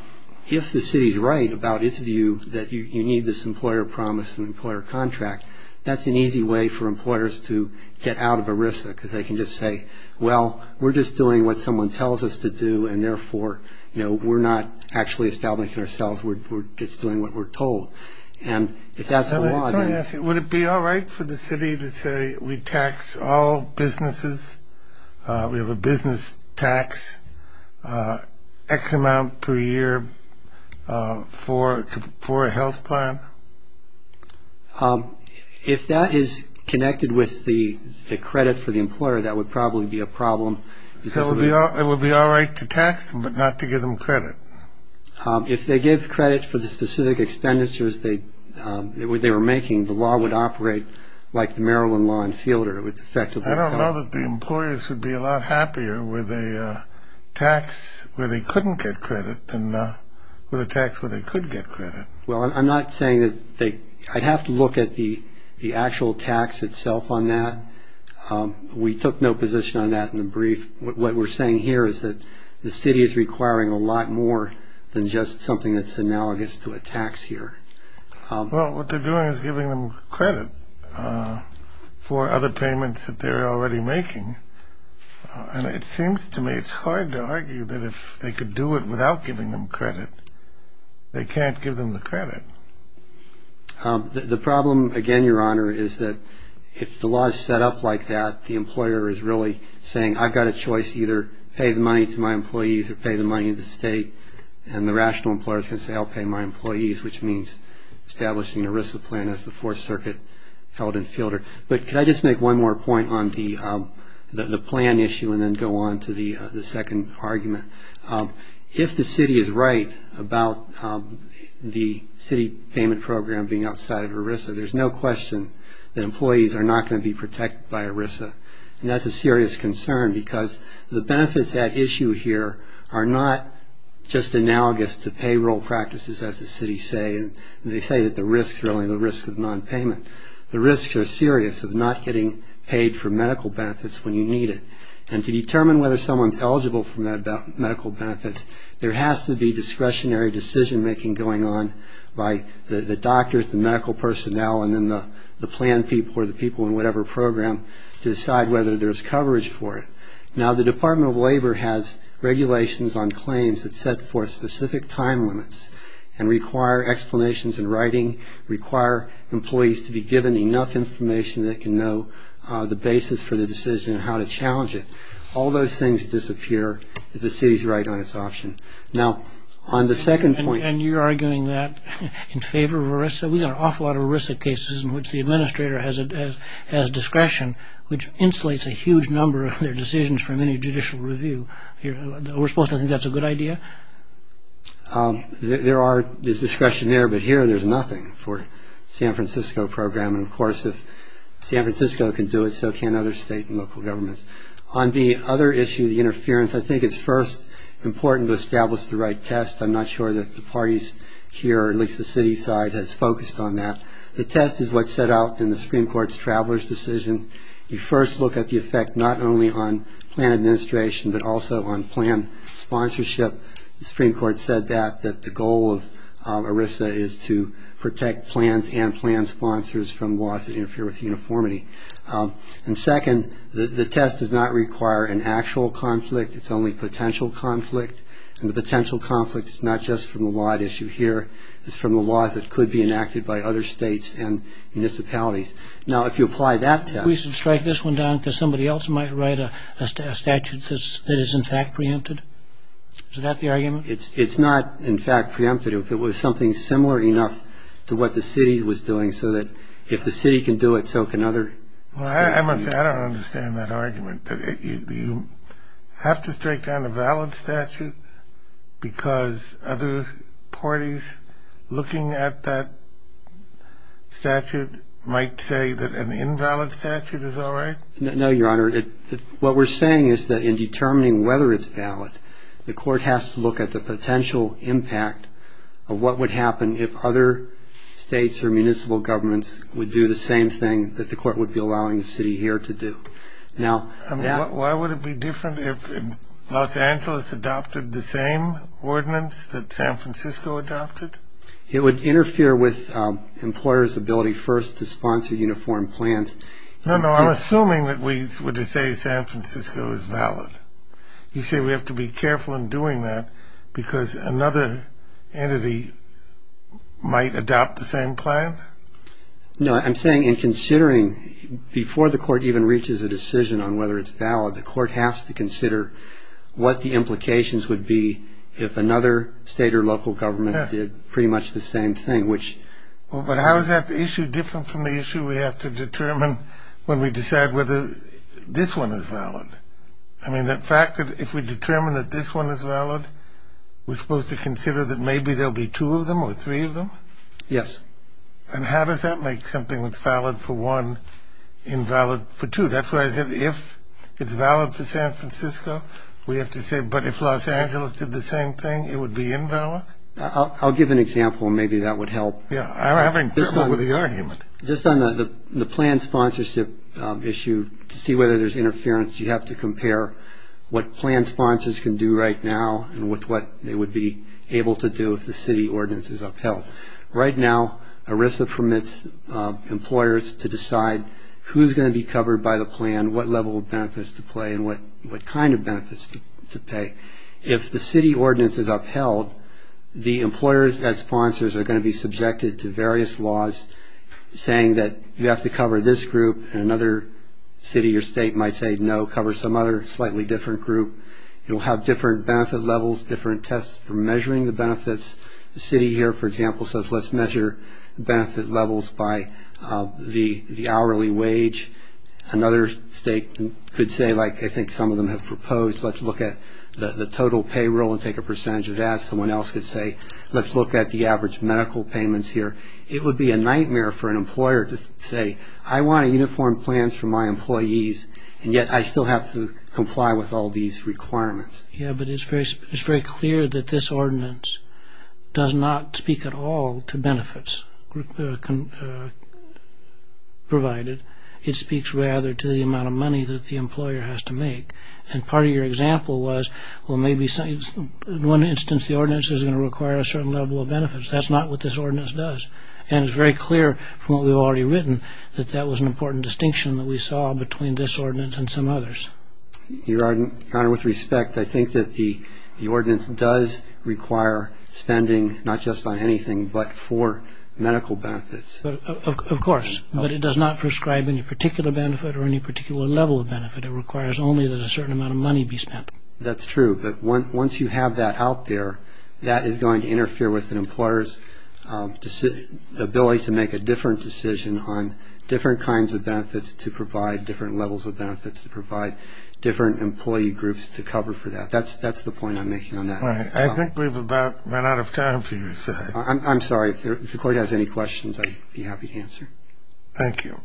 if the city's right about its view that you need this employer promise and employer contract, that's an easy way for employers to get out of ERISA, because they can just say, well, we're just doing what someone tells us to do, and, therefore, we're not actually establishing ourselves. We're just doing what we're told. And if that's the law, then... Would it be all right for the city to say we tax all businesses, we have a business tax X amount per year for a health plan? If that is connected with the credit for the employer, that would probably be a problem. So it would be all right to tax them, but not to give them credit? If they gave credit for the specific expenditures they were making, the law would operate like the Maryland law in Fielder. I don't know that the employers would be a lot happier with a tax where they couldn't get credit than with a tax where they could get credit. Well, I'm not saying that they... I'd have to look at the actual tax itself on that. We took no position on that in the brief. What we're saying here is that the city is requiring a lot more than just something that's analogous to a tax here. Well, what they're doing is giving them credit for other payments that they're already making. And it seems to me it's hard to argue that if they could do it without giving them credit, they can't give them the credit. The problem, again, Your Honor, is that if the law is set up like that, the employer is really saying, I've got a choice. Either pay the money to my employees or pay the money to the state. And the rational employer is going to say, I'll pay my employees, which means establishing an ERISA plan as the Fourth Circuit held in Fielder. But could I just make one more point on the plan issue and then go on to the second argument? If the city is right about the city payment program being outside of ERISA, there's no question that employees are not going to be protected by ERISA. And that's a serious concern because the benefits at issue here are not just analogous to payroll practices, as the city say. They say that the risk is really the risk of nonpayment. The risks are serious of not getting paid for medical benefits when you need it. And to determine whether someone's eligible for medical benefits, there has to be discretionary decision-making going on by the doctors, the medical personnel, and then the plan people or the people in whatever program to decide whether there's coverage for it. Now, the Department of Labor has regulations on claims that set forth specific time limits and require explanations in writing, require employees to be given enough information that can know the basis for the decision and how to challenge it. All those things disappear if the city's right on its option. Now, on the second point... And you're arguing that in favor of ERISA? We've got an awful lot of ERISA cases in which the administrator has discretion, which insulates a huge number of their decisions from any judicial review. We're supposed to think that's a good idea? There is discretion there, but here there's nothing for the San Francisco program. And, of course, if San Francisco can do it, so can other state and local governments. On the other issue, the interference, I think it's first important to establish the right test. I'm not sure that the parties here, or at least the city side, has focused on that. The test is what's set out in the Supreme Court's traveler's decision. You first look at the effect not only on plan administration but also on plan sponsorship. The Supreme Court said that, that the goal of ERISA is to protect plans and plan sponsors from laws that interfere with uniformity. And, second, the test does not require an actual conflict. It's only potential conflict. And the potential conflict is not just from the law at issue here. It's from the laws that could be enacted by other states and municipalities. Now, if you apply that test... Is that the argument? It's not, in fact, preemptive. It was something similar enough to what the city was doing so that if the city can do it, so can other states. I don't understand that argument. Do you have to strike down a valid statute because other parties looking at that statute might say that an invalid statute is all right? No, Your Honor. What we're saying is that in determining whether it's valid, the court has to look at the potential impact of what would happen if other states or municipal governments would do the same thing that the court would be allowing the city here to do. Now... Why would it be different if Los Angeles adopted the same ordinance that San Francisco adopted? It would interfere with employers' ability first to sponsor uniform plans. No, no. I'm assuming that we were to say San Francisco is valid. You say we have to be careful in doing that because another entity might adopt the same plan? No, I'm saying in considering before the court even reaches a decision on whether it's valid, the court has to consider what the implications would be if another state or local government did pretty much the same thing, which... But how is that issue different from the issue we have to determine when we decide whether this one is valid? I mean, the fact that if we determine that this one is valid, we're supposed to consider that maybe there'll be two of them or three of them? Yes. And how does that make something that's valid for one invalid for two? That's why I said if it's valid for San Francisco, we have to say, but if Los Angeles did the same thing, it would be invalid? I'll give an example. Maybe that would help. Yes, I'm having trouble with the argument. Just on the plan sponsorship issue, to see whether there's interference, you have to compare what plan sponsors can do right now and with what they would be able to do if the city ordinance is upheld. Right now, ERISA permits employers to decide who's going to be covered by the plan, what level of benefits to pay, and what kind of benefits to pay. If the city ordinance is upheld, the employers and sponsors are going to be subjected to various laws saying that you have to cover this group, and another city or state might say no, cover some other slightly different group. You'll have different benefit levels, different tests for measuring the benefits. The city here, for example, says let's measure benefit levels by the hourly wage. Another state could say, like I think some of them have proposed, let's look at the total payroll and take a percentage of that. Someone else could say, let's look at the average medical payments here. It would be a nightmare for an employer to say, I want uniform plans for my employees, and yet I still have to comply with all these requirements. Yes, but it's very clear that this ordinance does not speak at all to benefits provided. It speaks rather to the amount of money that the employer has to make. And part of your example was, well, maybe in one instance, the ordinance is going to require a certain level of benefits. That's not what this ordinance does. And it's very clear from what we've already written that that was an important distinction that we saw between this ordinance and some others. Your Honor, with respect, I think that the ordinance does require spending, not just on anything but for medical benefits. Of course, but it does not prescribe any particular benefit or any particular level of benefit. It requires only that a certain amount of money be spent. That's true. But once you have that out there, that is going to interfere with an employer's ability to make a different decision on different kinds of benefits to provide, different levels of benefits to provide, different employee groups to cover for that. That's the point I'm making on that. I think we've about run out of time for you. I'm sorry. If the Court has any questions, I'd be happy to answer. Thank you.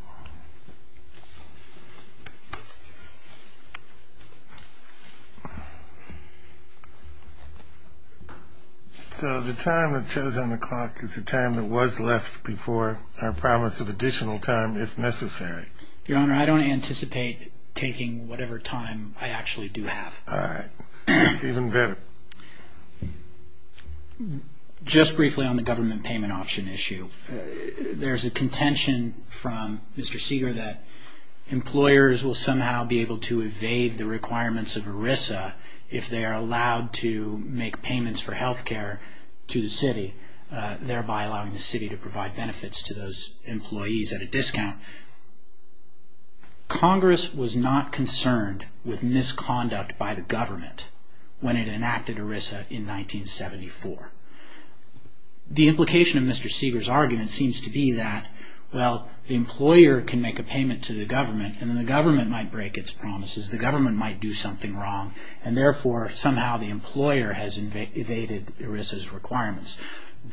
So the time that shows on the clock is the time that was left before our promise of additional time if necessary. Your Honor, I don't anticipate taking whatever time I actually do have. All right. Even better. Just briefly on the government payment option issue, there's a contention from Mr. Seeger that employers will somehow be able to evade the requirements of ERISA if they are allowed to make payments for health care to the city, thereby allowing the city to provide benefits to those employees at a discount. Congress was not concerned with misconduct by the government when it enacted ERISA in 1974. The implication of Mr. Seeger's argument seems to be that, well, the employer can make a payment to the government, and then the government might break its promises. The government might do something wrong, and therefore somehow the employer has evaded ERISA's requirements.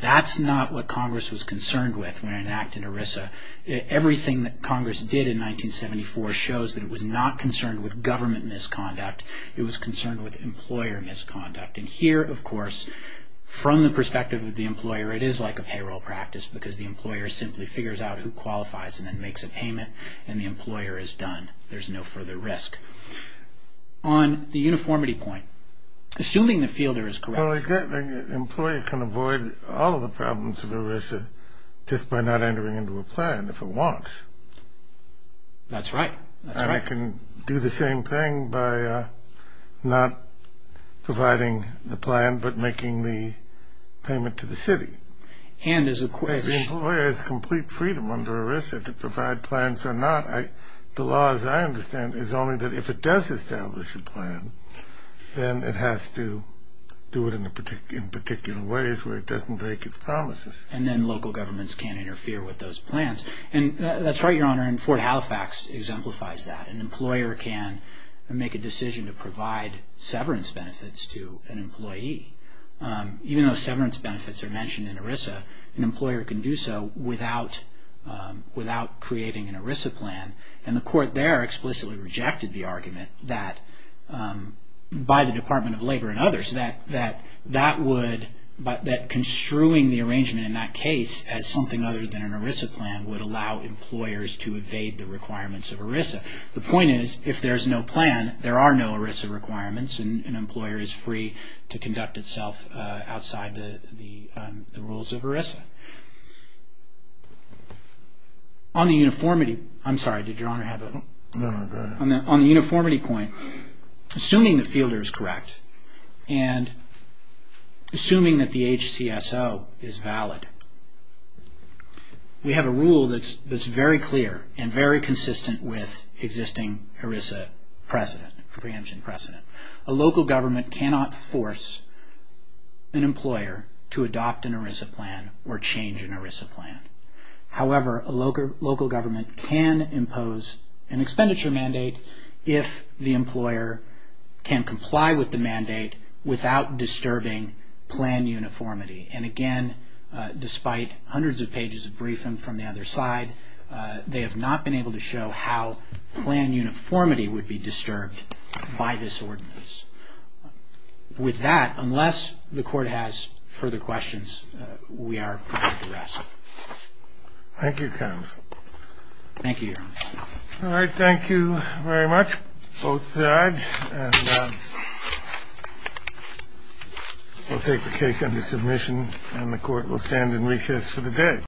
That's not what Congress was concerned with when it enacted ERISA. Everything that Congress did in 1974 shows that it was not concerned with government misconduct. It was concerned with employer misconduct. And here, of course, from the perspective of the employer, it is like a payroll practice because the employer simply figures out who qualifies and then makes a payment, and the employer is done. There's no further risk. On the uniformity point, assuming the fielder is correct. Well, again, an employee can avoid all of the problems of ERISA just by not entering into a plan if it wants. That's right. And I can do the same thing by not providing the plan but making the payment to the city. And as a question. The employer has complete freedom under ERISA to provide plans or not. The law, as I understand, is only that if it does establish a plan, then it has to do it in particular ways where it doesn't break its promises. And then local governments can't interfere with those plans. And that's right, Your Honor, and Fort Halifax exemplifies that. An employer can make a decision to provide severance benefits to an employee. Even though severance benefits are mentioned in ERISA, an employer can do so without creating an ERISA plan. And the court there explicitly rejected the argument that by the Department of Labor and others that construing the arrangement in that case as something other than an ERISA plan would allow employers to evade the requirements of ERISA. The point is, if there's no plan, there are no ERISA requirements, and an employer is free to conduct itself outside the rules of ERISA. On the uniformity point, assuming the fielder is correct, and assuming that the HCSO is valid, we have a rule that's very clear and very consistent with existing ERISA preemption precedent. A local government cannot force an employer to adopt an ERISA plan or change an ERISA plan. However, a local government can impose an expenditure mandate if the employer can comply with the mandate without disturbing plan uniformity. And again, despite hundreds of pages of briefing from the other side, they have not been able to show how plan uniformity would be disturbed by this ordinance. With that, unless the court has further questions, we are prepared to rest. Thank you, Your Honor. All right, thank you very much, both sides. And we'll take the case under submission, and the court will stand in recess for the day.